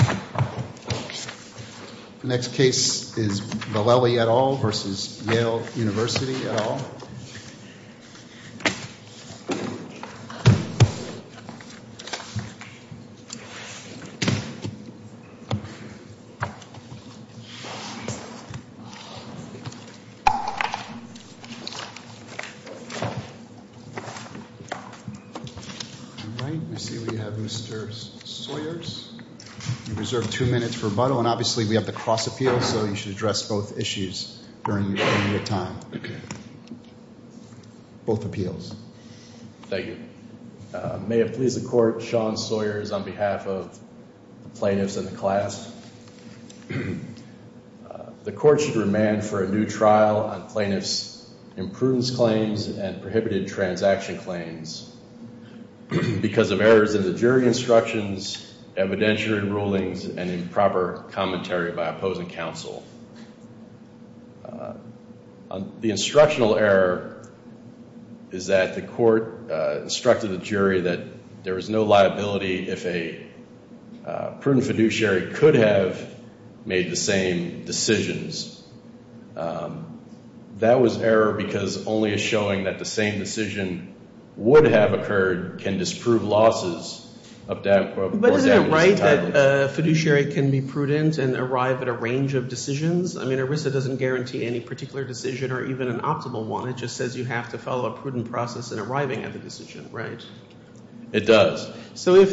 The next case is Vellali et al. v. Yale University et al. Vellali et al. v. Yale University et al. Vellali et al. v. Yale University et al. Vellali et al. v. Yale University et al. If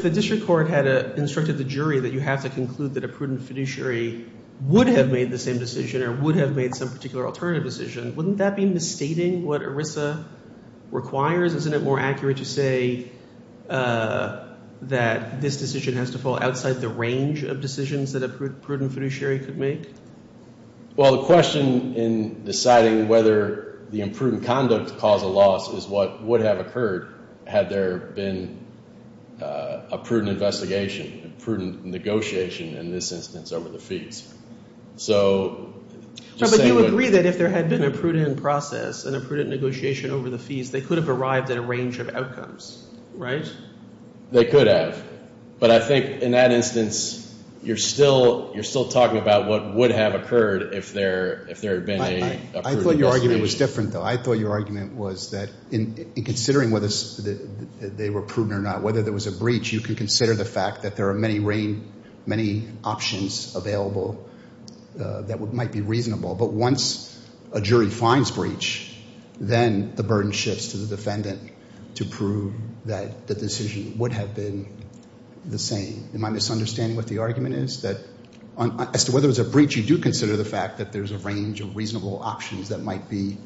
the district court had instructed the jury that you have to conclude that a prudent fiduciary would have made the same decision or would have made some particular alternative decision, wouldn't that be misstating what ERISA requires? Isn't it more accurate to say that this decision has to fall outside the range of decisions that a prudent fiduciary could make? Well, the question in deciding whether the imprudent conduct caused a loss is what would have occurred had there been a prudent investigation, a prudent negotiation in this instance over the fees. But you agree that if there had been a prudent process and a prudent negotiation over the fees, they could have arrived at a range of outcomes, right? They could have. But I think in that instance, you're still talking about what would have occurred if there had been a prudent investigation. I thought your argument was different, though. I thought your argument was that in considering whether they were prudent or not, whether there was a breach, you could consider the fact that there are many options available that might be reasonable. But once a jury finds breach, then the burden shifts to the defendant to prove that the decision would have been the same. Am I misunderstanding what the argument is that as to whether there's a breach, you do consider the fact that there's a range of reasonable options that might be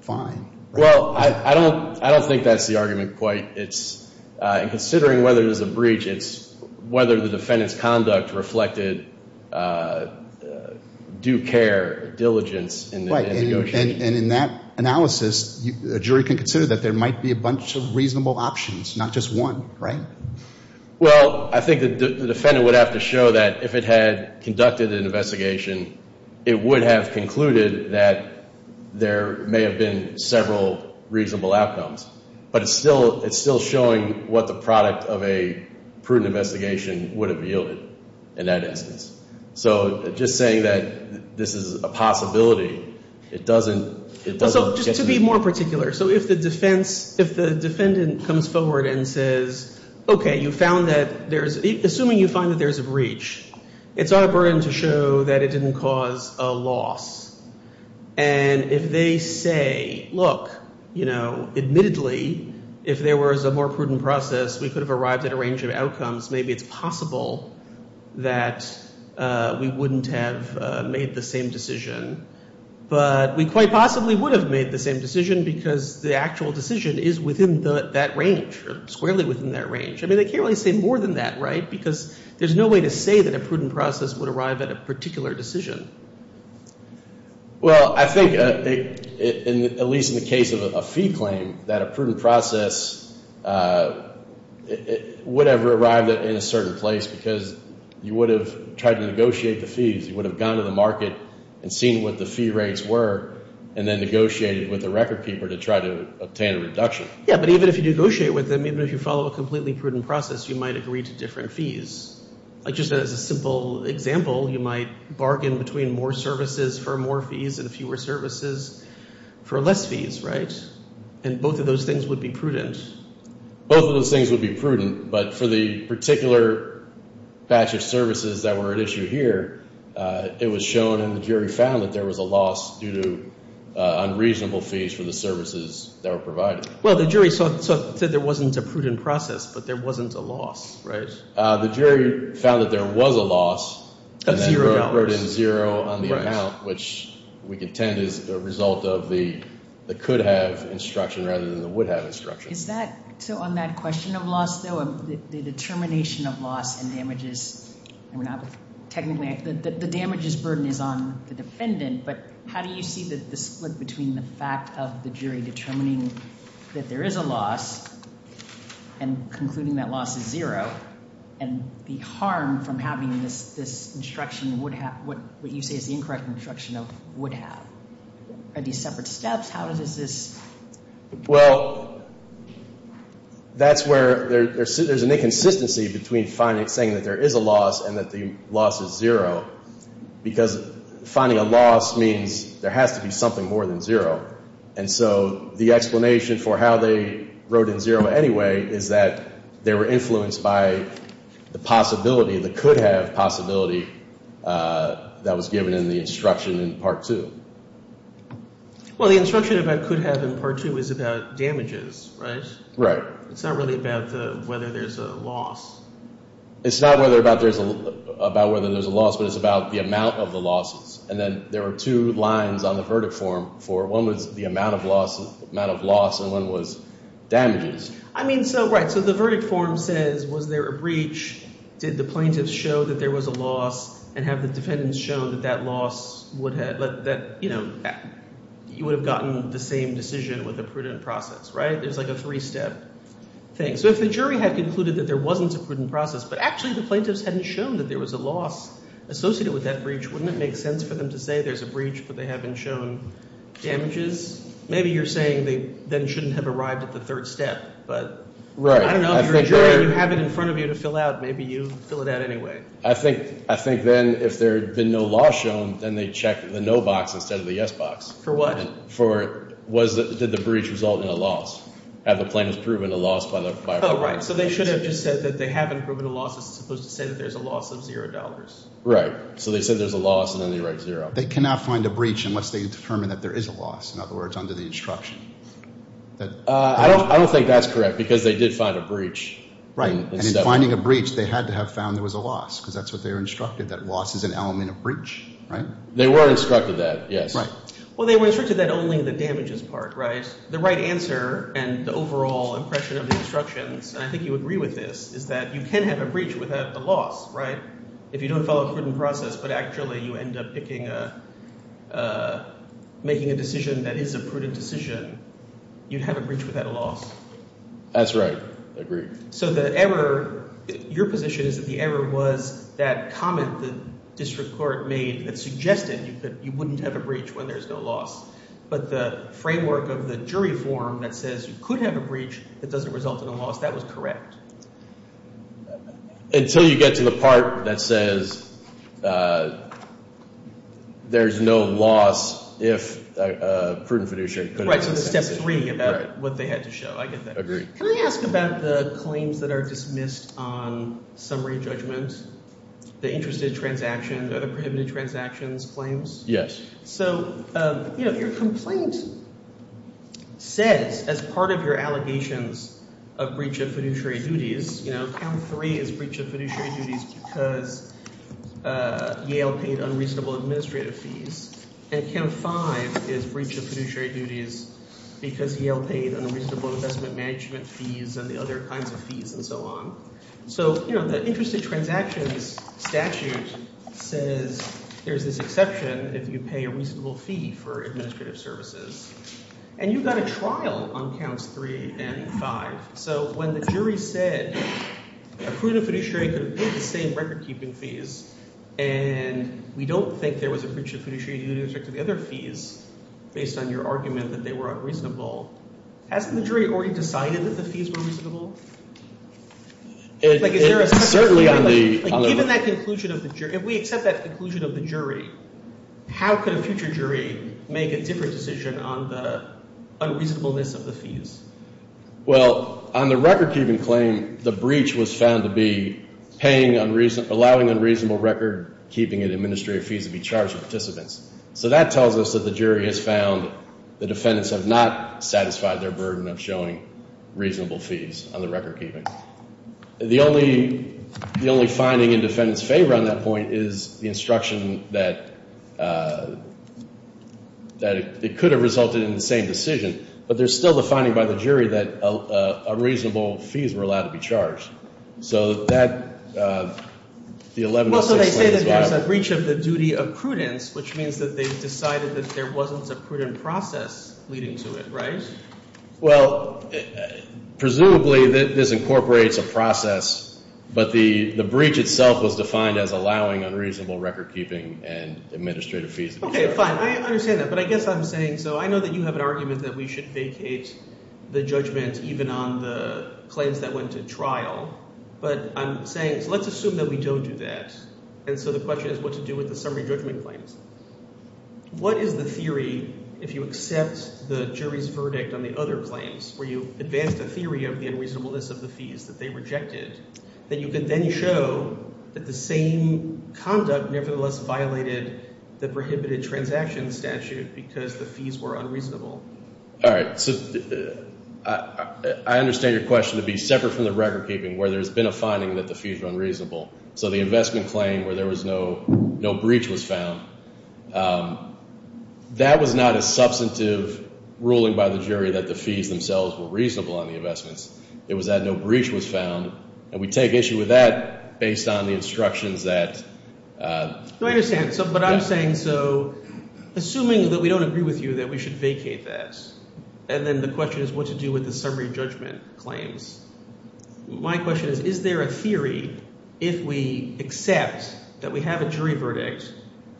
fine? Well, I don't think that's the argument quite. In considering whether there's a breach, it's whether the defendant's conduct reflected due care, diligence in the negotiation. And in that analysis, a jury can consider that there might be a bunch of reasonable options, not just one, right? Well, I think the defendant would have to show that if it had conducted an investigation, it would have concluded that there may have been several reasonable outcomes. But it's still showing what the product of a prudent investigation would have yielded in that instance. So just saying that this is a possibility, it doesn't— So just to be more particular, so if the defendant comes forward and says, okay, you found that there's—assuming you find that there's a breach, it's our burden to show that it didn't cause a loss. And if they say, look, admittedly, if there was a more prudent process, we could have arrived at a range of outcomes. Maybe it's possible that we wouldn't have made the same decision. But we quite possibly would have made the same decision because the actual decision is within that range or squarely within that range. I mean, they can't really say more than that, right? Because there's no way to say that a prudent process would arrive at a particular decision. Well, I think, at least in the case of a fee claim, that a prudent process would have arrived in a certain place because you would have tried to negotiate the fees. You would have gone to the market and seen what the fee rates were and then negotiated with the record keeper to try to obtain a reduction. Yeah, but even if you negotiate with them, even if you follow a completely prudent process, you might agree to different fees. Like just as a simple example, you might bargain between more services for more fees and fewer services for less fees, right? And both of those things would be prudent. Both of those things would be prudent, but for the particular batch of services that were at issue here, it was shown and the jury found that there was a loss due to unreasonable fees for the services that were provided. Well, the jury said there wasn't a prudent process, but there wasn't a loss, right? The jury found that there was a loss. Of zero dollars. And then wrote in zero on the amount, which we contend is a result of the could-have instruction rather than the would-have instruction. So on that question of loss though, the determination of loss and damages, technically the damages burden is on the defendant, but how do you see the split between the fact of the jury determining that there is a loss and concluding that loss is zero, and the harm from having this instruction, what you say is the incorrect instruction of would-have? Are these separate steps? Well, that's where there's an inconsistency between saying that there is a loss and that the loss is zero, because finding a loss means there has to be something more than zero. And so the explanation for how they wrote in zero anyway is that they were influenced by the possibility, the could-have possibility that was given in the instruction in Part 2. Well, the instruction about could-have in Part 2 is about damages, right? Right. It's not really about whether there's a loss. It's not about whether there's a loss, but it's about the amount of the losses. And then there are two lines on the verdict form for one was the amount of loss and one was damages. I mean, so right. So the verdict form says was there a breach, did the plaintiff show that there was a loss, and have the defendants shown that that loss would have, you know, you would have gotten the same decision with a prudent process, right? It was like a three-step thing. So if the jury had concluded that there wasn't a prudent process, but actually the plaintiffs hadn't shown that there was a loss associated with that breach, wouldn't it make sense for them to say there's a breach but they haven't shown damages? Maybe you're saying they then shouldn't have arrived at the third step, but I don't know. If you're a jury and you have it in front of you to fill out, maybe you fill it out anyway. I think then if there had been no loss shown, then they'd check the no box instead of the yes box. For what? For did the breach result in a loss? Have the plaintiffs proven a loss by a fine? Oh, right. So they should have just said that they haven't proven a loss. It's supposed to say that there's a loss of $0. Right. So they said there's a loss, and then they write 0. They cannot find a breach unless they determine that there is a loss, in other words, under the instruction. I don't think that's correct because they did find a breach. Right. And in finding a breach, they had to have found there was a loss because that's what they were instructed, that loss is an element of breach. Right? They were instructed that, yes. Well, they were instructed that only in the damages part, right? The right answer and the overall impression of the instructions, and I think you agree with this, is that you can have a breach without a loss. Right? If you don't follow a prudent process but actually you end up picking a – making a decision that is a prudent decision, you'd have a breach without a loss. That's right. Agreed. So the error – your position is that the error was that comment the district court made that suggested you wouldn't have a breach when there's no loss. But the framework of the jury form that says you could have a breach that doesn't result in a loss, that was correct. Until you get to the part that says there's no loss if a prudent fiduciary couldn't – Right. So that's step three about what they had to show. I get that. Agreed. Can I ask about the claims that are dismissed on summary judgments? The interested transactions, other prohibited transactions claims? Yes. So your complaint says as part of your allegations of breach of fiduciary duties, count three is breach of fiduciary duties because Yale paid unreasonable administrative fees. And count five is breach of fiduciary duties because Yale paid unreasonable investment management fees and the other kinds of fees and so on. So the interested transactions statute says there's this exception if you pay a reasonable fee for administrative services. And you got a trial on counts three and five. So when the jury said a prudent fiduciary could have paid the same recordkeeping fees and we don't think there was a breach of fiduciary duties with respect to the other fees based on your argument that they were unreasonable, hasn't the jury already decided that the fees were reasonable? Like is there a – Certainly on the – Given that conclusion of the – if we accept that conclusion of the jury, how could a future jury make a different decision on the unreasonableness of the fees? Well, on the recordkeeping claim, the breach was found to be paying – allowing unreasonable recordkeeping and administrative fees to be charged to participants. So that tells us that the jury has found the defendants have not satisfied their burden of showing reasonable fees on the recordkeeping. The only – the only finding in defendants' favor on that point is the instruction that it could have resulted in the same decision. But there's still the finding by the jury that unreasonable fees were allowed to be charged. So that – the 1106 claim is valid. Well, so they say that there's a breach of the duty of prudence, which means that they've decided that there wasn't a prudent process leading to it, right? Well, presumably this incorporates a process, but the breach itself was defined as allowing unreasonable recordkeeping and administrative fees to be charged. Okay, fine. I understand that. But I guess I'm saying – so I know that you have an argument that we should vacate the judgment even on the claims that went to trial. But I'm saying – so let's assume that we don't do that. And so the question is what to do with the summary judgment claims. What is the theory if you accept the jury's verdict on the other claims where you advanced a theory of the unreasonableness of the fees that they rejected that you could then show that the same conduct nevertheless violated the prohibited transaction statute because the fees were unreasonable? All right. So I understand your question to be separate from the recordkeeping where there's been a finding that the fees were unreasonable. So the investment claim where there was no breach was found. That was not a substantive ruling by the jury that the fees themselves were reasonable on the investments. It was that no breach was found, and we take issue with that based on the instructions that – No, I understand. But I'm saying – so assuming that we don't agree with you that we should vacate that, and then the question is what to do with the summary judgment claims. My question is, is there a theory if we accept that we have a jury verdict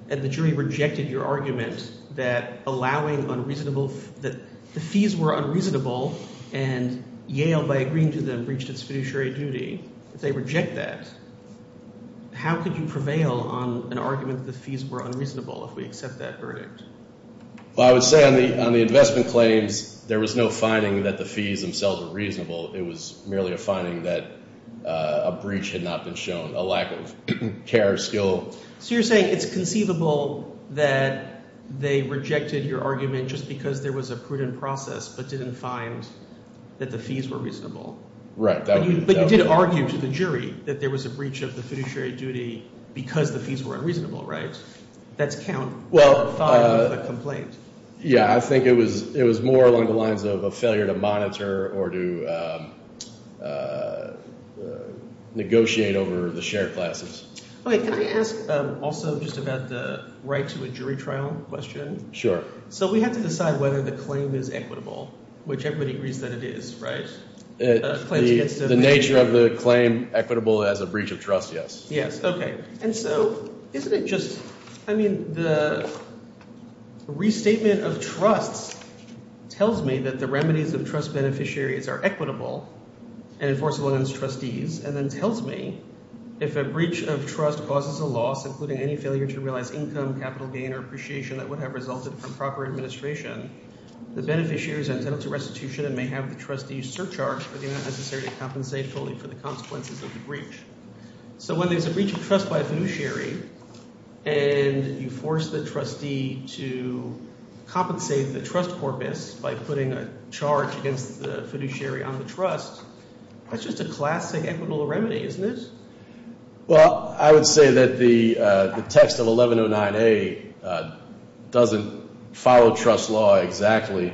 and the jury rejected your argument that allowing unreasonable – that the fees were unreasonable and Yale, by agreeing to them, breached its fiduciary duty, if they reject that, how could you prevail on an argument that the fees were unreasonable if we accept that verdict? Well, I would say on the investment claims there was no finding that the fees themselves were reasonable. It was merely a finding that a breach had not been shown, a lack of care or skill. So you're saying it's conceivable that they rejected your argument just because there was a prudent process but didn't find that the fees were reasonable? Right. But you did argue to the jury that there was a breach of the fiduciary duty because the fees were unreasonable, right? That's count. Well – Yeah, I think it was more along the lines of a failure to monitor or to negotiate over the shared classes. Okay. Can I ask also just about the right to a jury trial question? Sure. So we have to decide whether the claim is equitable, which everybody agrees that it is, right? The nature of the claim, equitable as a breach of trust, yes. Yes, okay. And so isn't it just – I mean the restatement of trusts tells me that the remedies of trust beneficiaries are equitable and enforceable against trustees and then tells me if a breach of trust causes a loss, including any failure to realize income, capital gain, or appreciation that would have resulted from proper administration, the beneficiaries are entitled to restitution and may have the trustee's surcharge, but they're not necessary to compensate fully for the consequences of the breach. So when there's a breach of trust by a fiduciary and you force the trustee to compensate the trust corpus by putting a charge against the fiduciary on the trust, that's just a classic equitable remedy, isn't it? Well, I would say that the text of 1109A doesn't follow trust law exactly.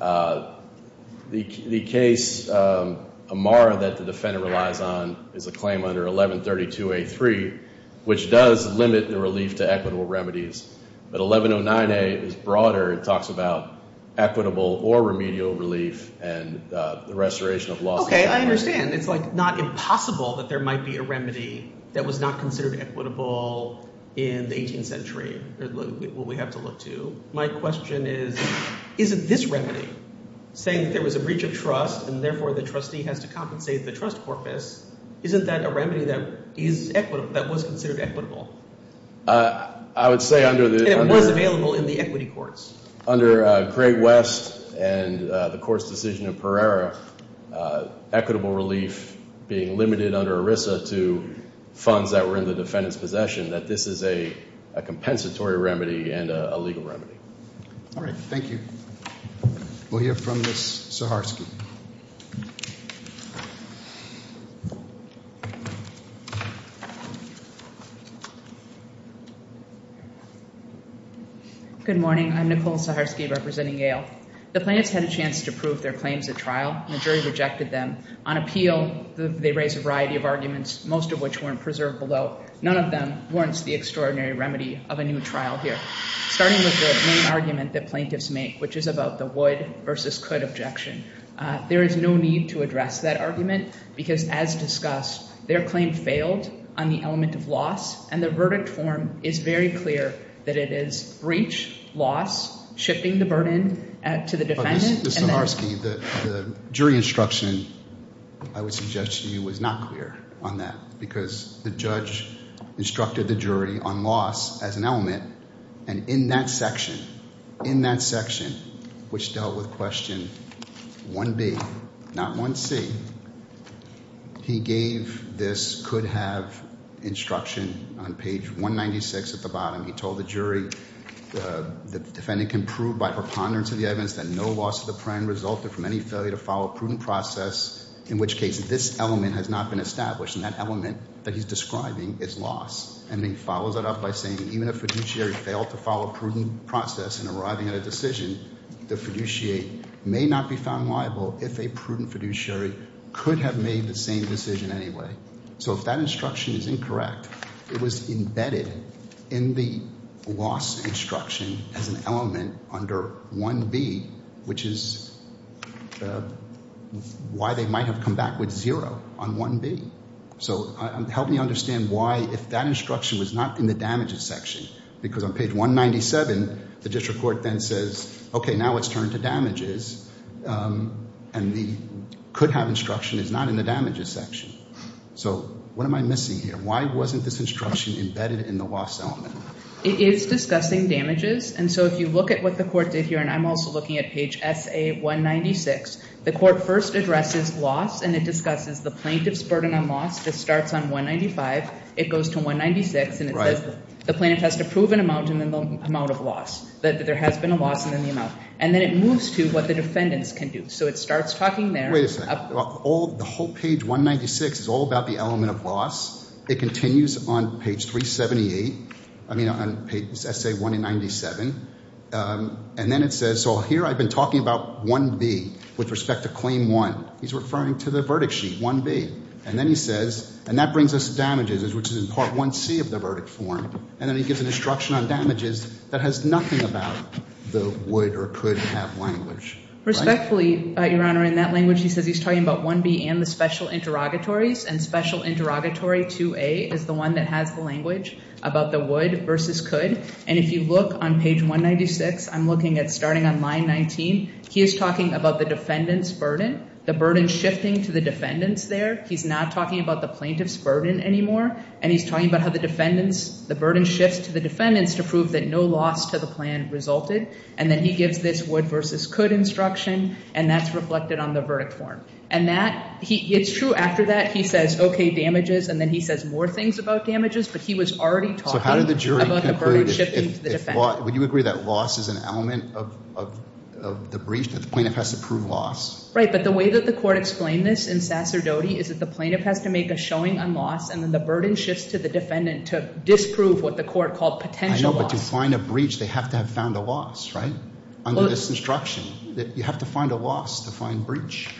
The case, Amara, that the defendant relies on is a claim under 1132A3, which does limit the relief to equitable remedies. But 1109A is broader. It talks about equitable or remedial relief and the restoration of loss. Okay, I understand. It's like not impossible that there might be a remedy that was not considered equitable in the 18th century, what we have to look to. My question is, isn't this remedy, saying that there was a breach of trust and therefore the trustee has to compensate the trust corpus, isn't that a remedy that was considered equitable? I would say under the— And it was available in the equity courts. Under Great West and the court's decision in Pereira, equitable relief being limited under ERISA to funds that were in the defendant's possession, that this is a compensatory remedy and a legal remedy. All right, thank you. We'll hear from Ms. Saharsky. Good morning. I'm Nicole Saharsky representing Yale. The plaintiffs had a chance to prove their claims at trial, and the jury rejected them. On appeal, they raised a variety of arguments, most of which weren't preserved below. None of them warrants the extraordinary remedy of a new trial here. Starting with the main argument that plaintiffs make, which is about the would versus could objection. There is no need to address that argument because, as discussed, their claim failed on the element of loss, and the verdict form is very clear that it is breach, loss, shifting the burden to the defendant. Ms. Saharsky, the jury instruction, I would suggest to you, was not clear on that because the judge instructed the jury on loss as an element, and in that section, in that section, which dealt with question 1B, not 1C, he gave this could have instruction on page 196 at the bottom. He told the jury the defendant can prove by preponderance of the evidence that no loss of the prime resulted from any failure to follow a prudent process, in which case this element has not been established, and that element that he's describing is loss. And he follows that up by saying even if a fiduciary failed to follow a prudent process in arriving at a decision, the fiduciary may not be found liable if a prudent fiduciary could have made the same decision anyway. So if that instruction is incorrect, it was embedded in the loss instruction as an element under 1B, which is why they might have come back with zero on 1B. So help me understand why if that instruction was not in the damages section because on page 197, the district court then says, okay, now let's turn to damages, and the could have instruction is not in the damages section. So what am I missing here? Why wasn't this instruction embedded in the loss element? It is discussing damages, and so if you look at what the court did here, and I'm also looking at page SA196, the court first addresses loss, and it discusses the plaintiff's burden on loss just starts on 195. It goes to 196, and it says the plaintiff has to prove an amount and then the amount of loss, that there has been a loss and then the amount, and then it moves to what the defendants can do. So it starts talking there. The whole page 196 is all about the element of loss. It continues on page 378, I mean on page SA197, and then it says, and so here I've been talking about 1B with respect to claim 1. He's referring to the verdict sheet, 1B, and then he says, and that brings us to damages, which is in part 1C of the verdict form, and then he gives an instruction on damages that has nothing about the would or could have language. Respectfully, Your Honor, in that language he says he's talking about 1B and the special interrogatories, and special interrogatory 2A is the one that has the language about the would versus could, and if you look on page 196, I'm looking at starting on line 19, he is talking about the defendant's burden, the burden shifting to the defendants there. He's not talking about the plaintiff's burden anymore, and he's talking about how the defendants, the burden shifts to the defendants to prove that no loss to the plan resulted, and then he gives this would versus could instruction, and that's reflected on the verdict form. And that, it's true after that he says, okay, damages, and then he says more things about damages, but he was already talking about the burden shifting to the defendant. So how did the jury conclude, would you agree that loss is an element of the breach, that the plaintiff has to prove loss? Right, but the way that the court explained this in Sacerdoti is that the plaintiff has to make a showing on loss, and then the burden shifts to the defendant to disprove what the court called potential loss. I know, but to find a breach, they have to have found a loss, right, under this instruction, that you have to find a loss to find breach.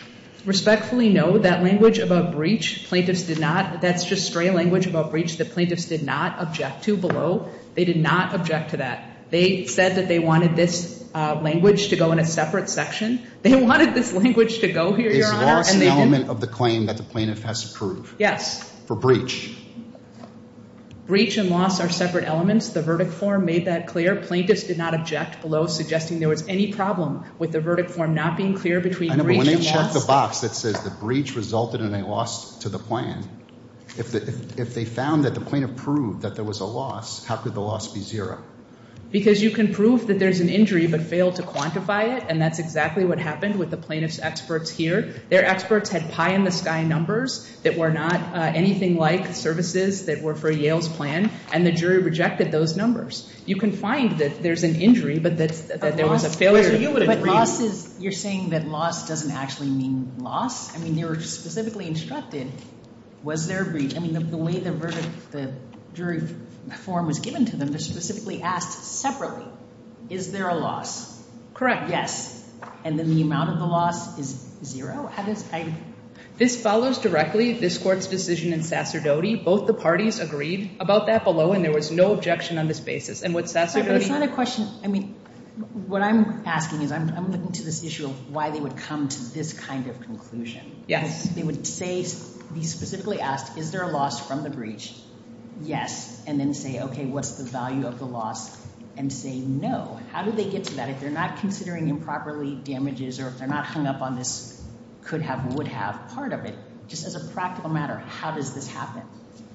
Respectfully, no, that language about breach, plaintiffs did not, that's just stray language about breach that plaintiffs did not object to below. They did not object to that. They said that they wanted this language to go in a separate section. They wanted this language to go here, Your Honor, and they didn't. Is loss an element of the claim that the plaintiff has to prove? Yes. For breach. Breach and loss are separate elements. The verdict form made that clear. Plaintiffs did not object below, suggesting there was any problem with the verdict form not being clear between breach and loss. If they found that the plaintiff proved that there was a loss, how could the loss be zero? Because you can prove that there's an injury but fail to quantify it, and that's exactly what happened with the plaintiff's experts here. Their experts had pie-in-the-sky numbers that were not anything like services that were for Yale's plan, and the jury rejected those numbers. You can find that there's an injury but that there was a failure. But loss is, you're saying that loss doesn't actually mean loss? I mean, they were specifically instructed, was there a breach? I mean, the way the jury form was given to them, they're specifically asked separately, is there a loss? Correct. Yes. And then the amount of the loss is zero? This follows directly this court's decision in Sasserdote. Both the parties agreed about that below, and there was no objection on this basis. It's not a question. I mean, what I'm asking is I'm looking to this issue of why they would come to this kind of conclusion. Yes. They would say, be specifically asked, is there a loss from the breach? Yes. And then say, okay, what's the value of the loss? And say no. How do they get to that if they're not considering improperly damages or if they're not hung up on this could have, would have part of it? Just as a practical matter, how does this happen?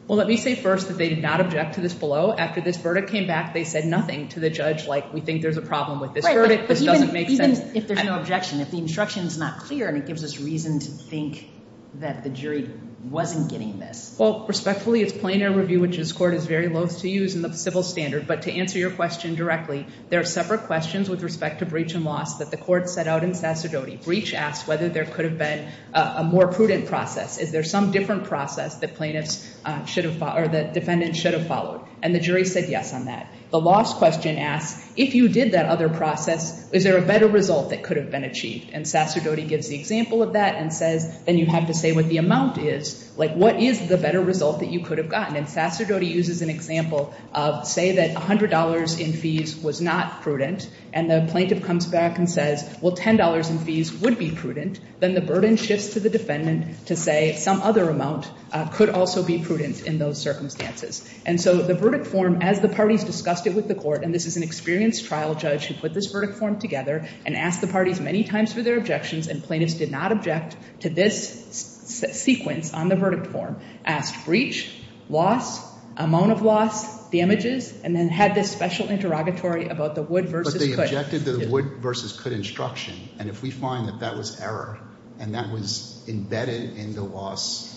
Well, let me say first that they did not object to this below. After this verdict came back, they said nothing to the judge like, we think there's a problem with this verdict, this doesn't make sense. Even if there's no objection, if the instruction is not clear and it gives us reason to think that the jury wasn't getting this. Well, respectfully, it's plaintiff review, which this court is very loathe to use in the civil standard. But to answer your question directly, there are separate questions with respect to breach and loss that the court set out in Sasserdote. Breach asks whether there could have been a more prudent process. Is there some different process that plaintiffs should have, or that defendants should have followed? And the jury said yes on that. The loss question asks, if you did that other process, is there a better result that could have been achieved? And Sasserdote gives the example of that and says, then you have to say what the amount is. Like, what is the better result that you could have gotten? And Sasserdote uses an example of say that $100 in fees was not prudent and the plaintiff comes back and says, well, $10 in fees would be prudent. Then the burden shifts to the defendant to say some other amount could also be prudent in those circumstances. And so the verdict form, as the parties discussed it with the court, and this is an experienced trial judge who put this verdict form together and asked the parties many times for their objections, and plaintiffs did not object to this sequence on the verdict form, asked breach, loss, amount of loss, damages, and then had this special interrogatory about the would versus could. But they objected to the would versus could instruction. And if we find that that was error and that was embedded in the loss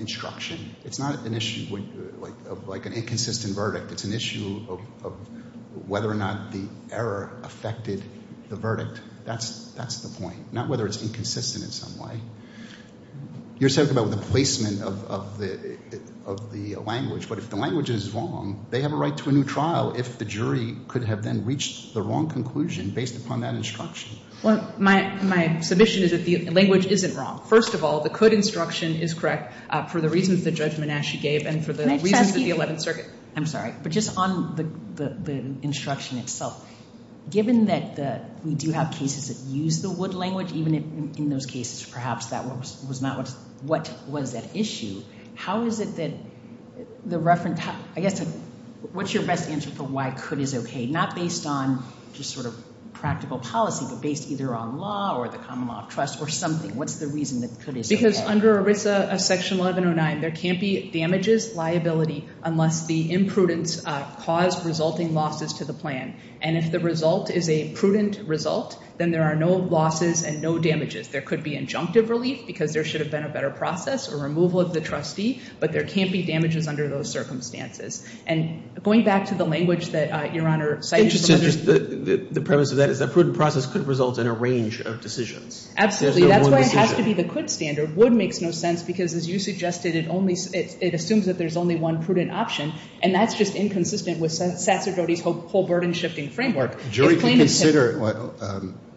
instruction, it's not an issue of like an inconsistent verdict. It's an issue of whether or not the error affected the verdict. That's the point, not whether it's inconsistent in some way. You're talking about the placement of the language. But if the language is wrong, they have a right to a new trial if the jury could have then reached the wrong conclusion based upon that instruction. Well, my submission is that the language isn't wrong. First of all, the could instruction is correct for the reasons that Judge Menasche gave and for the reasons of the Eleventh Circuit. I'm sorry, but just on the instruction itself, given that we do have cases that use the would language, even in those cases perhaps that was not what was at issue, what's your best answer for why could is okay? Not based on just sort of practical policy, but based either on law or the common law of trust or something. What's the reason that could is okay? Because under ERISA Section 1109, there can't be damages liability unless the imprudence caused resulting losses to the plan. And if the result is a prudent result, then there are no losses and no damages. There could be injunctive relief because there should have been a better process or removal of the trustee, but there can't be damages under those circumstances. And going back to the language that Your Honor cited. The premise of that is a prudent process could result in a range of decisions. Absolutely. That's why it has to be the could standard. Would makes no sense because, as you suggested, it assumes that there's only one prudent option, and that's just inconsistent with Sasserdoti's whole burden-shifting framework.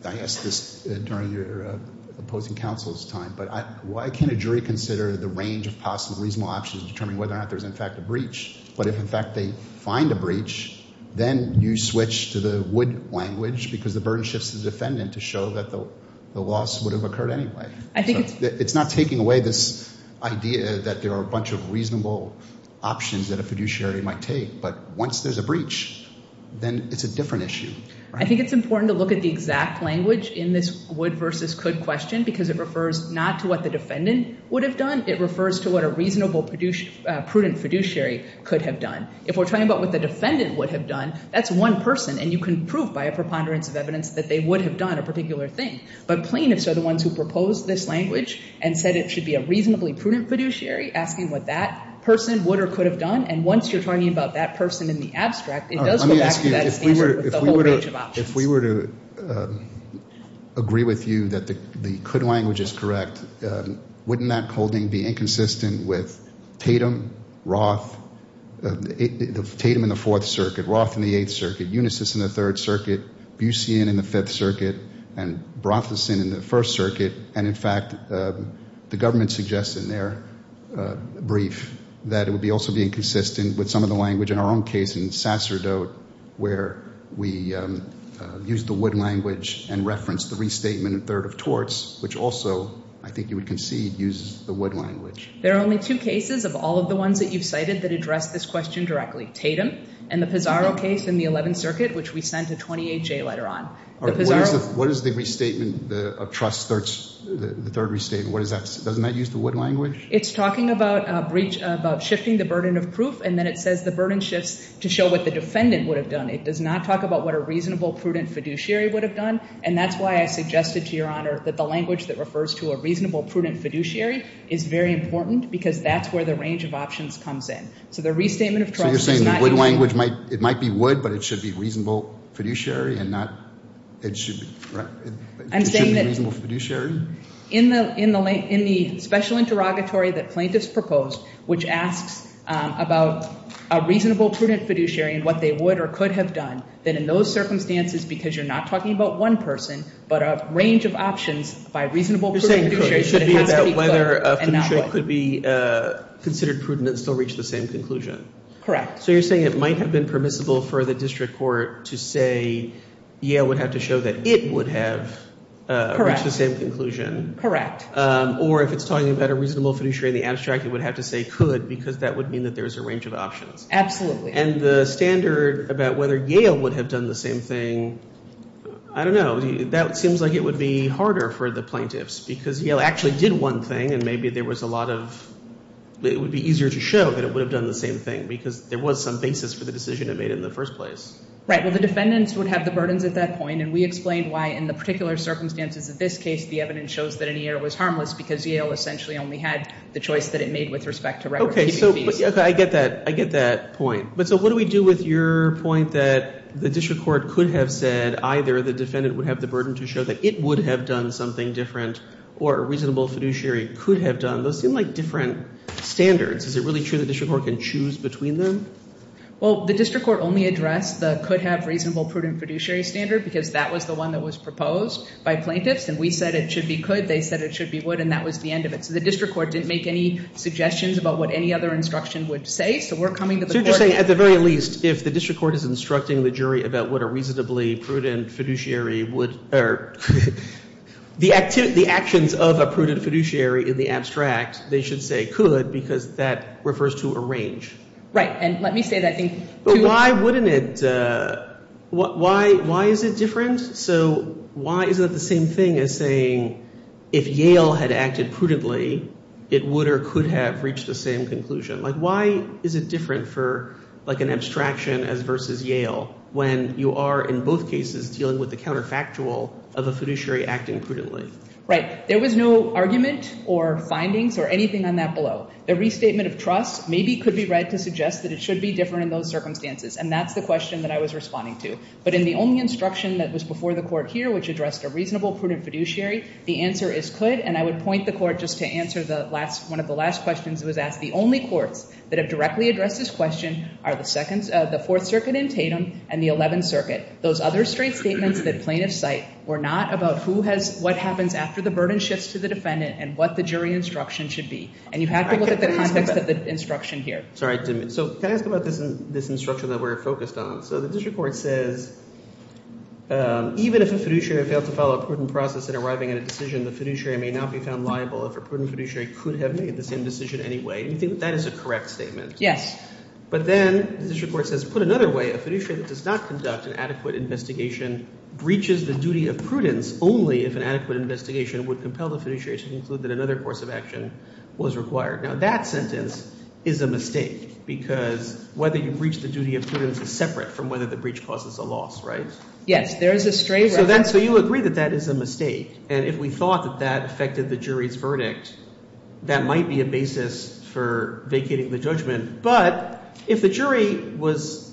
I asked this during your opposing counsel's time, but why can't a jury consider the range of possible reasonable options determining whether or not there's, in fact, a breach? But if, in fact, they find a breach, then you switch to the wood language because the burden shifts to the defendant to show that the loss would have occurred anyway. It's not taking away this idea that there are a bunch of reasonable options that a fiduciary might take, but once there's a breach, then it's a different issue. I think it's important to look at the exact language in this would versus could question because it refers not to what the defendant would have done. It refers to what a reasonable prudent fiduciary could have done. If we're talking about what the defendant would have done, that's one person, and you can prove by a preponderance of evidence that they would have done a particular thing. But plaintiffs are the ones who proposed this language and said it should be a reasonably prudent fiduciary asking what that person would or could have done. And once you're talking about that person in the abstract, it does go back to that standard with a whole range of options. If we were to agree with you that the could language is correct, wouldn't that holding be inconsistent with Tatum, Roth, Tatum in the Fourth Circuit, Roth in the Eighth Circuit, Unisys in the Third Circuit, Busian in the Fifth Circuit, and Brotherson in the First Circuit? And, in fact, the government suggests in their brief that it would also be inconsistent with some of the language in our own case in Sasserdote where we used the would language and referenced the restatement in Third of Torts, which also, I think you would concede, uses the would language. There are only two cases of all of the ones that you've cited that address this question directly, Tatum and the Pizarro case in the Eleventh Circuit, which we sent a 28-J letter on. What is the restatement of trust, the third restatement? Doesn't that use the would language? It's talking about shifting the burden of proof and then it says the burden shifts to show what the defendant would have done. It does not talk about what a reasonable, prudent fiduciary would have done, and that's why I suggested to Your Honor that the language that refers to a reasonable, prudent fiduciary is very important because that's where the range of options comes in. So the restatement of trust does not use the would language. So you're saying the would language, it might be would, but it should be reasonable fiduciary and not, it should be, right? It should be reasonable fiduciary? In the special interrogatory that plaintiffs proposed, which asks about a reasonable, prudent fiduciary and what they would or could have done, then in those circumstances, because you're not talking about one person, but a range of options by reasonable, prudent fiduciary, it has to be clear and not would. It should be about whether a fiduciary could be considered prudent and still reach the same conclusion? Correct. So you're saying it might have been permissible for the district court to say Yale would have to show that it would have reached the same conclusion. Correct. Or if it's talking about a reasonable fiduciary in the abstract, it would have to say could because that would mean that there's a range of options. Absolutely. And the standard about whether Yale would have done the same thing, I don't know. That seems like it would be harder for the plaintiffs because Yale actually did one thing and maybe there was a lot of, it would be easier to show that it would have done the same thing because there was some basis for the decision it made in the first place. Right. Well, the defendants would have the burdens at that point, and we explained why in the particular circumstances of this case, the evidence shows that any error was harmless because Yale essentially only had the choice that it made with respect to record keeping fees. So I get that. I get that point. But so what do we do with your point that the district court could have said either the defendant would have the burden to show that it would have done something different or a reasonable fiduciary could have done? Those seem like different standards. Is it really true the district court can choose between them? Well, the district court only addressed the could have reasonable prudent fiduciary standard because that was the one that was proposed by plaintiffs, and we said it should be could, they said it should be would, and that was the end of it. So the district court didn't make any suggestions about what any other instruction would say. So we're coming to the court. So you're saying at the very least, if the district court is instructing the jury about what a reasonably prudent fiduciary would, or the actions of a prudent fiduciary in the abstract, they should say could because that refers to a range. Right, and let me say that. But why wouldn't it? Why is it different? So why is it the same thing as saying if Yale had acted prudently, it would or could have reached the same conclusion? Like why is it different for like an abstraction as versus Yale when you are in both cases dealing with the counterfactual of a fiduciary acting prudently? Right. There was no argument or findings or anything on that below. The restatement of trust maybe could be read to suggest that it should be different in those circumstances, and that's the question that I was responding to. But in the only instruction that was before the court here, which addressed a reasonable prudent fiduciary, the answer is could, and I would point the court just to answer one of the last questions that was asked. The only courts that have directly addressed this question are the Fourth Circuit in Tatum and the Eleventh Circuit. Those other straight statements that plaintiffs cite were not about what happens after the burden shifts to the defendant and what the jury instruction should be. And you have to look at the context of the instruction here. Sorry. So can I ask about this instruction that we're focused on? So the district court says even if a fiduciary failed to follow a prudent process in arriving at a decision, the fiduciary may not be found liable if a prudent fiduciary could have made the same decision anyway. Do you think that is a correct statement? Yes. But then the district court says put another way, a fiduciary that does not conduct an adequate investigation breaches the duty of prudence only if an adequate investigation would compel the fiduciary to conclude that another course of action was required. Now that sentence is a mistake because whether you breach the duty of prudence is separate from whether the breach causes a loss, right? Yes. There is a stray right. So you agree that that is a mistake, and if we thought that that affected the jury's verdict, that might be a basis for vacating the judgment. But if the jury was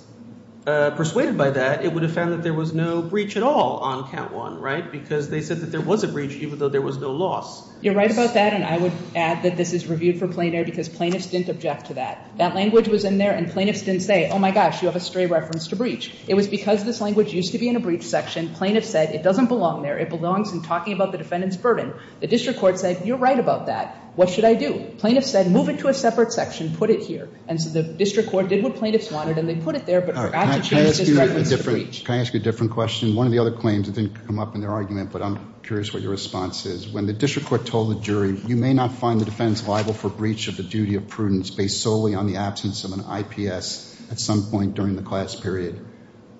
persuaded by that, it would have found that there was no breach at all on count one, right, because they said that there was a breach even though there was no loss. You're right about that, and I would add that this is reviewed for plain air because plaintiffs didn't object to that. That language was in there, and plaintiffs didn't say, oh, my gosh, you have a stray reference to breach. It was because this language used to be in a breach section. Plaintiffs said it doesn't belong there. It belongs in talking about the defendant's burden. The district court said you're right about that. What should I do? Plaintiffs said move it to a separate section, put it here. And so the district court did what plaintiffs wanted, and they put it there but forgot to change this reference to breach. Can I ask you a different question? One of the other claims that didn't come up in their argument, but I'm curious what your response is. When the district court told the jury you may not find the defense liable for breach of the duty of prudence based solely on the absence of an IPS at some point during the class period,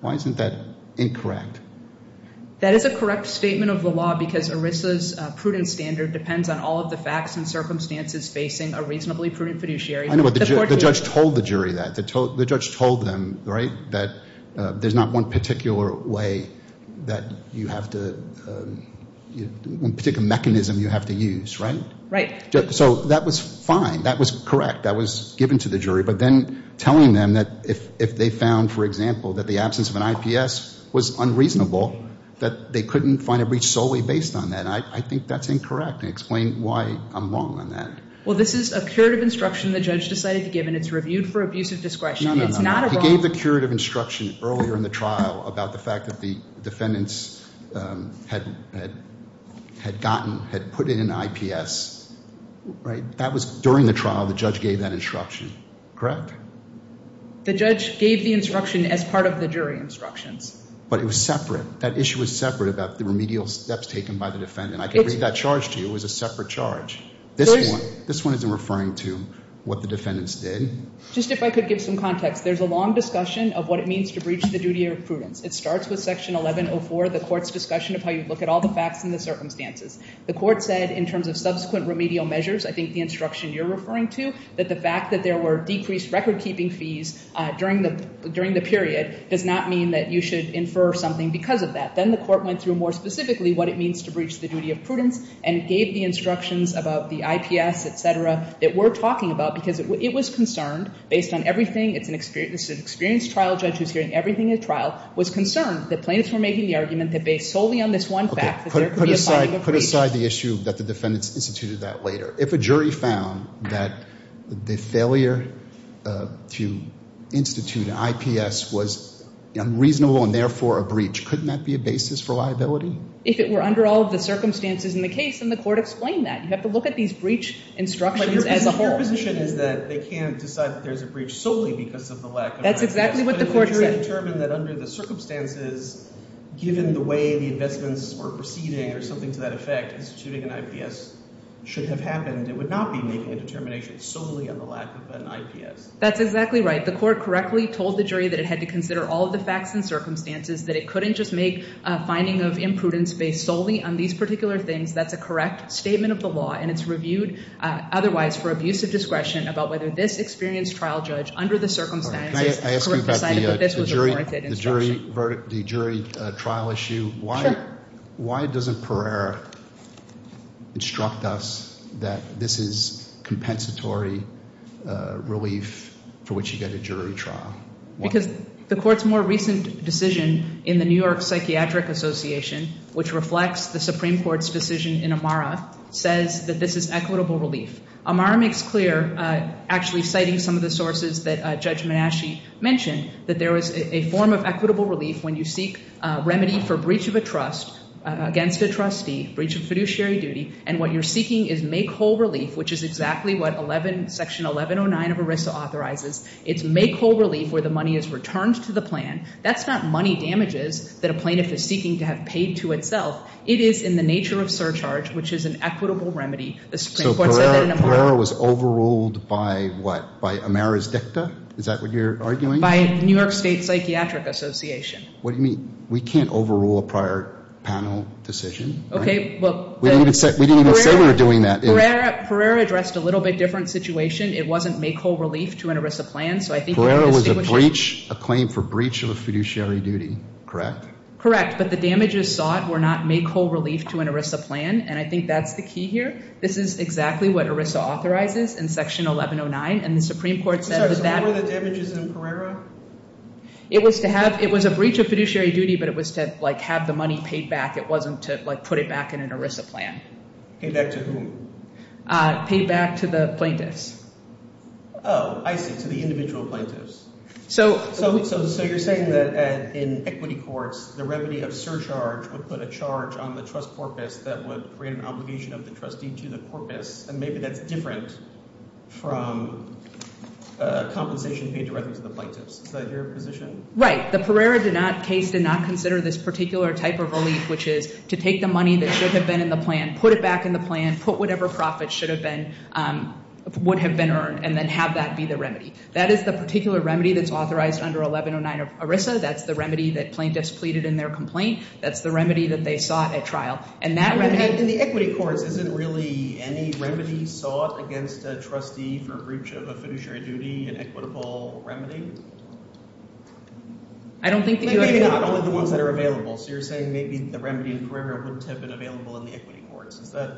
why isn't that incorrect? That is a correct statement of the law because ERISA's prudent standard depends on all of the facts and circumstances facing a reasonably prudent fiduciary. I know, but the judge told the jury that. The judge told them that there's not one particular mechanism you have to use, right? Right. So that was fine. That was correct. That was given to the jury. But then telling them that if they found, for example, that the absence of an IPS was unreasonable, that they couldn't find a breach solely based on that, I think that's incorrect. Explain why I'm wrong on that. Well, this is a curative instruction the judge decided to give. And it's reviewed for abuse of discretion. No, no, no. He gave the curative instruction earlier in the trial about the fact that the defendants had gotten, had put in an IPS, right? That was during the trial the judge gave that instruction, correct? The judge gave the instruction as part of the jury instructions. But it was separate. That issue was separate about the remedial steps taken by the defendant. I can read that charge to you. It was a separate charge. This one isn't referring to what the defendants did. Just if I could give some context. There's a long discussion of what it means to breach the duty of prudence. It starts with Section 1104, the court's discussion of how you look at all the facts and the circumstances. The court said in terms of subsequent remedial measures, I think the instruction you're referring to, that the fact that there were decreased record-keeping fees during the period does not mean that you should infer something because of that. Then the court went through more specifically what it means to breach the duty of prudence and gave the instructions about the IPS, et cetera, that we're talking about because it was concerned based on everything. It's an experienced trial judge who's hearing everything in the trial, was concerned that plaintiffs were making the argument that based solely on this one fact that there could be a fine of a breach. Put aside the issue that the defendants instituted that later. If a jury found that the failure to institute an IPS was unreasonable and therefore a breach, couldn't that be a basis for liability? If it were under all of the circumstances in the case, then the court explained that. You have to look at these breach instructions as a whole. But your position is that they can't decide that there's a breach solely because of the lack of IPS. That's exactly what the court said. If they determined that under the circumstances, given the way the investments were proceeding or something to that effect, instituting an IPS should have happened. It would not be making a determination solely on the lack of an IPS. That's exactly right. The court correctly told the jury that it had to consider all of the facts and circumstances, that it couldn't just make a finding of imprudence based solely on these particular things. That's a correct statement of the law, and it's reviewed otherwise for abusive discretion about whether this experienced trial judge under the circumstances decided that this was a breach. The jury trial issue, why doesn't Pereira instruct us that this is compensatory relief for which you get a jury trial? Because the court's more recent decision in the New York Psychiatric Association, which reflects the Supreme Court's decision in Amara, says that this is equitable relief. Amara makes clear, actually citing some of the sources that Judge Menasche mentioned, that there is a form of equitable relief when you seek remedy for breach of a trust against a trustee, breach of fiduciary duty, and what you're seeking is make whole relief, which is exactly what Section 1109 of ERISA authorizes. It's make whole relief where the money is returned to the plan. That's not money damages that a plaintiff is seeking to have paid to itself. It is in the nature of surcharge, which is an equitable remedy. The Supreme Court said that in Amara. So Pereira was overruled by what? By Amara's dicta? Is that what you're arguing? By New York State Psychiatric Association. What do you mean? We can't overrule a prior panel decision. Okay, well. We didn't even say we were doing that. Pereira addressed a little bit different situation. It wasn't make whole relief to an ERISA plan, so I think you can distinguish. Pereira was a breach, a claim for breach of a fiduciary duty, correct? Correct, but the damages sought were not make whole relief to an ERISA plan, and I think that's the key here. This is exactly what ERISA authorizes in Section 1109, and the Supreme Court said that. So were the damages in Pereira? It was to have. It was a breach of fiduciary duty, but it was to, like, have the money paid back. It wasn't to, like, put it back in an ERISA plan. Paid back to whom? Paid back to the plaintiffs. Oh, I see, to the individual plaintiffs. So you're saying that in equity courts, the remedy of surcharge would put a charge on the trust corpus that would create an obligation of the trustee to the corpus, and maybe that's different from compensation paid directly to the plaintiffs. Is that your position? Right. The Pereira case did not consider this particular type of relief, which is to take the money that should have been in the plan, put it back in the plan, put whatever profit should have been, would have been earned, and then have that be the remedy. That is the particular remedy that's authorized under 1109 ERISA. That's the remedy that plaintiffs pleaded in their complaint. That's the remedy that they sought at trial. And that remedy— In the equity courts, isn't really any remedy sought against a trustee for breach of a fiduciary duty an equitable remedy? I don't think that you— Maybe not, only the ones that are available. So you're saying maybe the remedy in Pereira wouldn't have been available in the equity courts. Is that—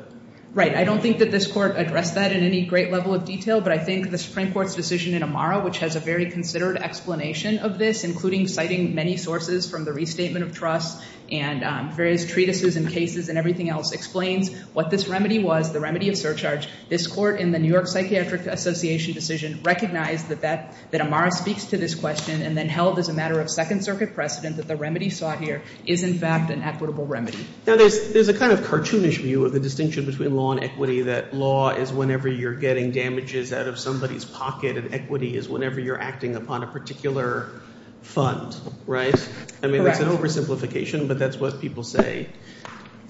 Right. I don't think that this court addressed that in any great level of detail, but I think the Supreme Court's decision in Amara, which has a very considered explanation of this, including citing many sources from the restatement of trust and various treatises and cases and everything else, explains what this remedy was, the remedy of surcharge. This court in the New York Psychiatric Association decision recognized that Amara speaks to this question and then held as a matter of Second Circuit precedent that the remedy sought here is in fact an equitable remedy. Now there's a kind of cartoonish view of the distinction between law and equity, that law is whenever you're getting damages out of somebody's pocket and equity is whenever you're acting upon a particular fund, right? Correct. I mean, that's an oversimplification, but that's what people say.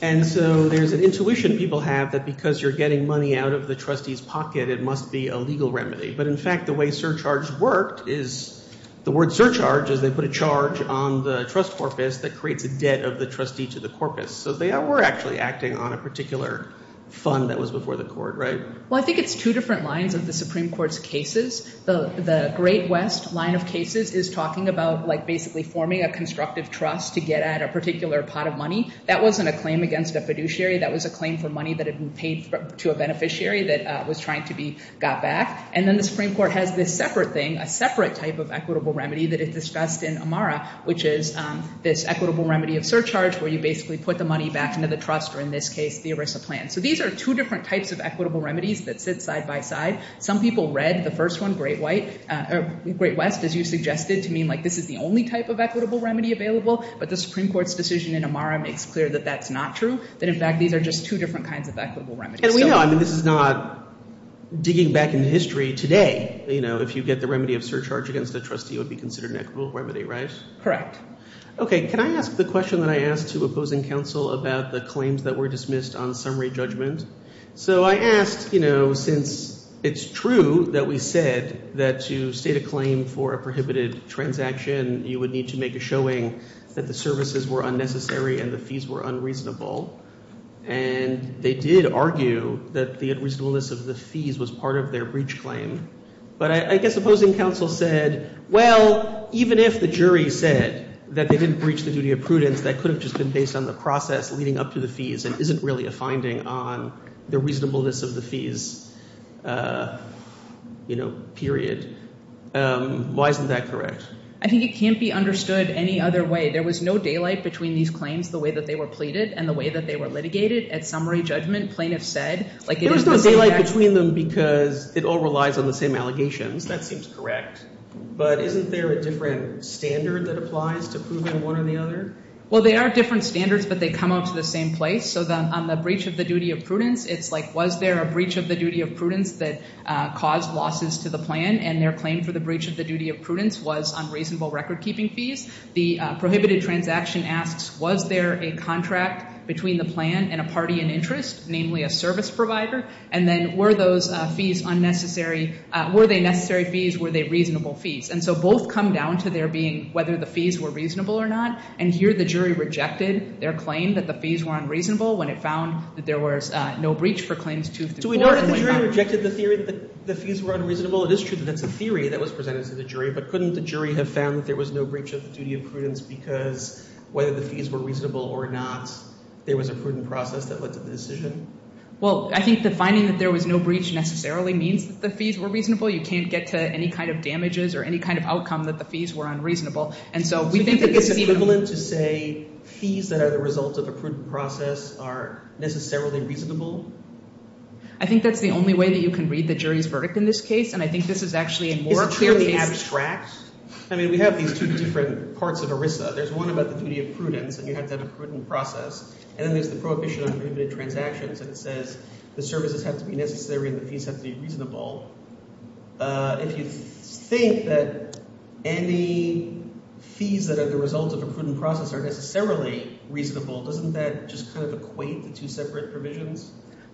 And so there's an intuition people have that because you're getting money out of the trustee's pocket, it must be a legal remedy. But in fact, the way surcharge worked is— the word surcharge is they put a charge on the trust corpus that creates a debt of the trustee to the corpus. So they were actually acting on a particular fund that was before the court, right? Well, I think it's two different lines of the Supreme Court's cases. The Great West line of cases is talking about basically forming a constructive trust to get at a particular pot of money. That wasn't a claim against a fiduciary. That was a claim for money that had been paid to a beneficiary that was trying to be got back. And then the Supreme Court has this separate thing, a separate type of equitable remedy that is discussed in Amara, which is this equitable remedy of surcharge where you basically put the money back into the trust, or in this case, the ERISA plan. So these are two different types of equitable remedies that sit side by side. Some people read the first one, Great West, as you suggested, to mean like this is the only type of equitable remedy available. But the Supreme Court's decision in Amara makes clear that that's not true, that in fact these are just two different kinds of equitable remedies. And we know—I mean this is not digging back into history today. If you get the remedy of surcharge against a trustee, it would be considered an equitable remedy, right? Correct. Okay. Can I ask the question that I asked to opposing counsel about the claims that were dismissed on summary judgment? So I asked, you know, since it's true that we said that to state a claim for a prohibited transaction you would need to make a showing that the services were unnecessary and the fees were unreasonable, and they did argue that the unreasonableness of the fees was part of their breach claim. But I guess opposing counsel said, well, even if the jury said that they didn't breach the duty of prudence, that could have just been based on the process leading up to the fees and isn't really a finding on the reasonableness of the fees, you know, period. Why isn't that correct? I think it can't be understood any other way. There was no daylight between these claims, the way that they were pleaded and the way that they were litigated at summary judgment. Plaintiffs said like it is— That seems correct. But isn't there a different standard that applies to proving one or the other? Well, there are different standards, but they come out to the same place. So on the breach of the duty of prudence, it's like was there a breach of the duty of prudence that caused losses to the plan, and their claim for the breach of the duty of prudence was unreasonable recordkeeping fees. The prohibited transaction asks was there a contract between the plan and a party in interest, namely a service provider, and then were those fees unnecessary? Were they necessary fees? Were they reasonable fees? And so both come down to there being whether the fees were reasonable or not, and here the jury rejected their claim that the fees were unreasonable when it found that there was no breach for claims 2 through 4. So we know that the jury rejected the theory that the fees were unreasonable. It is true that that's a theory that was presented to the jury, but couldn't the jury have found that there was no breach of the duty of prudence because whether the fees were reasonable or not, there was a prudent process that led to the decision? Well, I think the finding that there was no breach necessarily means that the fees were reasonable. You can't get to any kind of damages or any kind of outcome that the fees were unreasonable. Do you think it's equivalent to say fees that are the result of a prudent process are necessarily reasonable? I think that's the only way that you can read the jury's verdict in this case, and I think this is actually a more clear case. I mean, we have these two different parts of ERISA. There's one about the duty of prudence, and you have to have a prudent process, and then there's the prohibition on prohibited transactions, and it says the services have to be necessary and the fees have to be reasonable. If you think that any fees that are the result of a prudent process are necessarily reasonable, doesn't that just kind of equate the two separate provisions?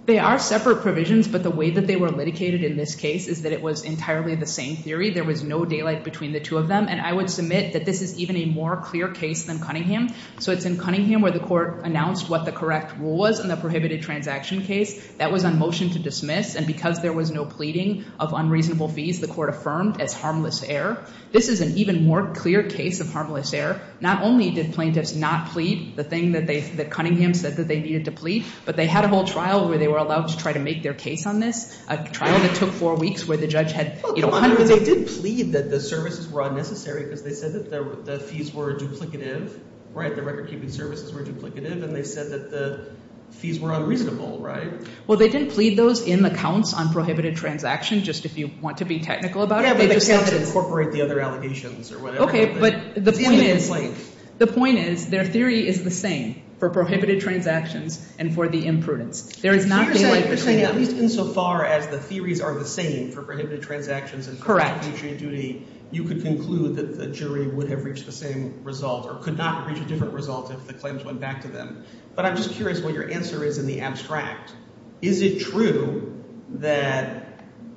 They are separate provisions, but the way that they were litigated in this case is that it was entirely the same theory. There was no daylight between the two of them, and I would submit that this is even a more clear case than Cunningham. So it's in Cunningham where the court announced what the correct rule was in the prohibited transaction case. That was on motion to dismiss, and because there was no pleading of unreasonable fees, the court affirmed as harmless error. This is an even more clear case of harmless error. Not only did plaintiffs not plead the thing that Cunningham said that they needed to plead, but they had a whole trial where they were allowed to try to make their case on this, a trial that took four weeks where the judge had hundreds of— But they did plead that the services were unnecessary because they said that the fees were duplicative where the recordkeeping services were duplicative, and they said that the fees were unreasonable, right? Well, they didn't plead those in the counts on prohibited transactions, just if you want to be technical about it. Yeah, but they just have to incorporate the other allegations or whatever. Okay, but the point is their theory is the same for prohibited transactions and for the imprudence. There is not daylight between them. At least insofar as the theories are the same for prohibited transactions and for the completion of duty, you could conclude that the jury would have reached the same result or could not reach a different result if the claims went back to them. But I'm just curious what your answer is in the abstract. Is it true that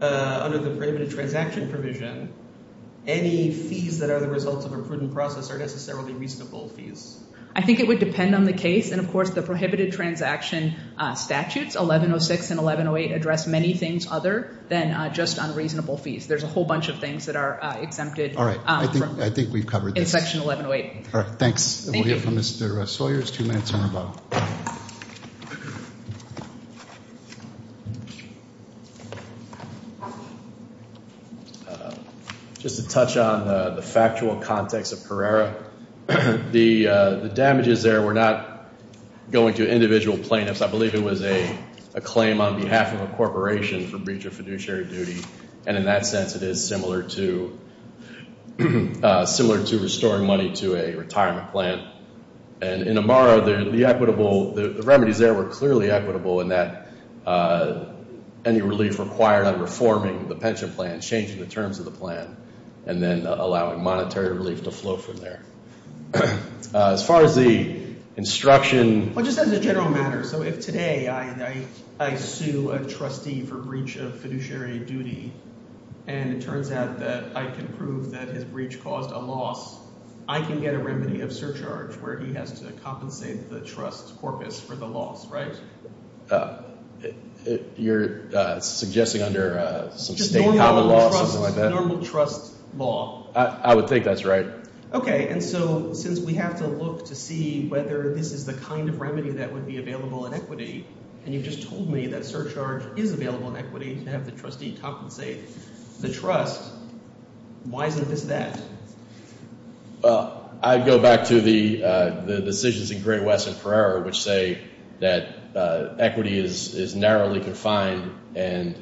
under the prohibited transaction provision, any fees that are the result of a prudent process are necessarily reasonable fees? I think it would depend on the case, and of course the prohibited transaction statutes, 1106 and 1108, address many things other than just unreasonable fees. There's a whole bunch of things that are exempted. All right, I think we've covered this. In Section 1108. All right, thanks. We'll hear from Mr. Sawyers, two minutes on the bottom. Just to touch on the factual context of Carrera, the damages there were not going to individual plaintiffs. I believe it was a claim on behalf of a corporation for breach of fiduciary duty, and in that sense it is similar to restoring money to a retirement plan. And in Amara, the remedies there were clearly equitable in that any relief required on reforming the pension plan, changing the terms of the plan, and then allowing monetary relief to flow from there. As far as the instruction— Well, just as a general matter, so if today I sue a trustee for breach of fiduciary duty and it turns out that I can prove that his breach caused a loss, I can get a remedy of surcharge where he has to compensate the trust corpus for the loss, right? You're suggesting under some state common law, something like that? Just normal trust law. I would think that's right. Okay, and so since we have to look to see whether this is the kind of remedy that would be available in equity, and you've just told me that surcharge is available in equity to have the trustee compensate the trust, why isn't this that? Well, I'd go back to the decisions in Gray, Wess, and Pereira, which say that equity is narrowly confined and—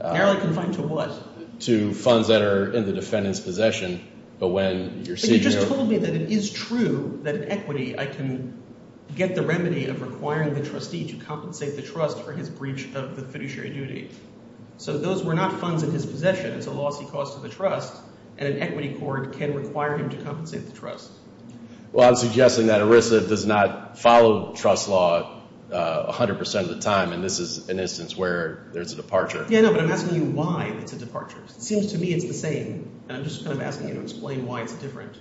Narrowly confined to what? To funds that are in the defendant's possession. But you just told me that it is true that in equity I can get the remedy of requiring the trustee to compensate the trust for his breach of the fiduciary duty. So those were not funds in his possession. It's a loss he caused to the trust, and an equity court can require him to compensate the trust. Well, I'm suggesting that ERISA does not follow trust law 100 percent of the time, and this is an instance where there's a departure. Yeah, no, but I'm asking you why it's a departure. It seems to me it's the same, and I'm just kind of asking you to explain why it's different.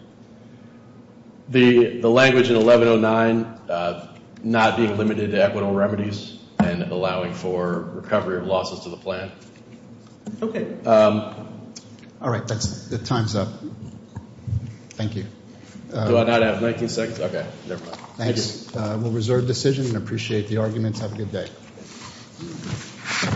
The language in 1109, not being limited to equitable remedies and allowing for recovery of losses to the plan. Okay. All right, the time's up. Thank you. Do I not have 19 seconds? Okay, never mind. Thanks. We'll reserve decision and appreciate the arguments. Have a good day.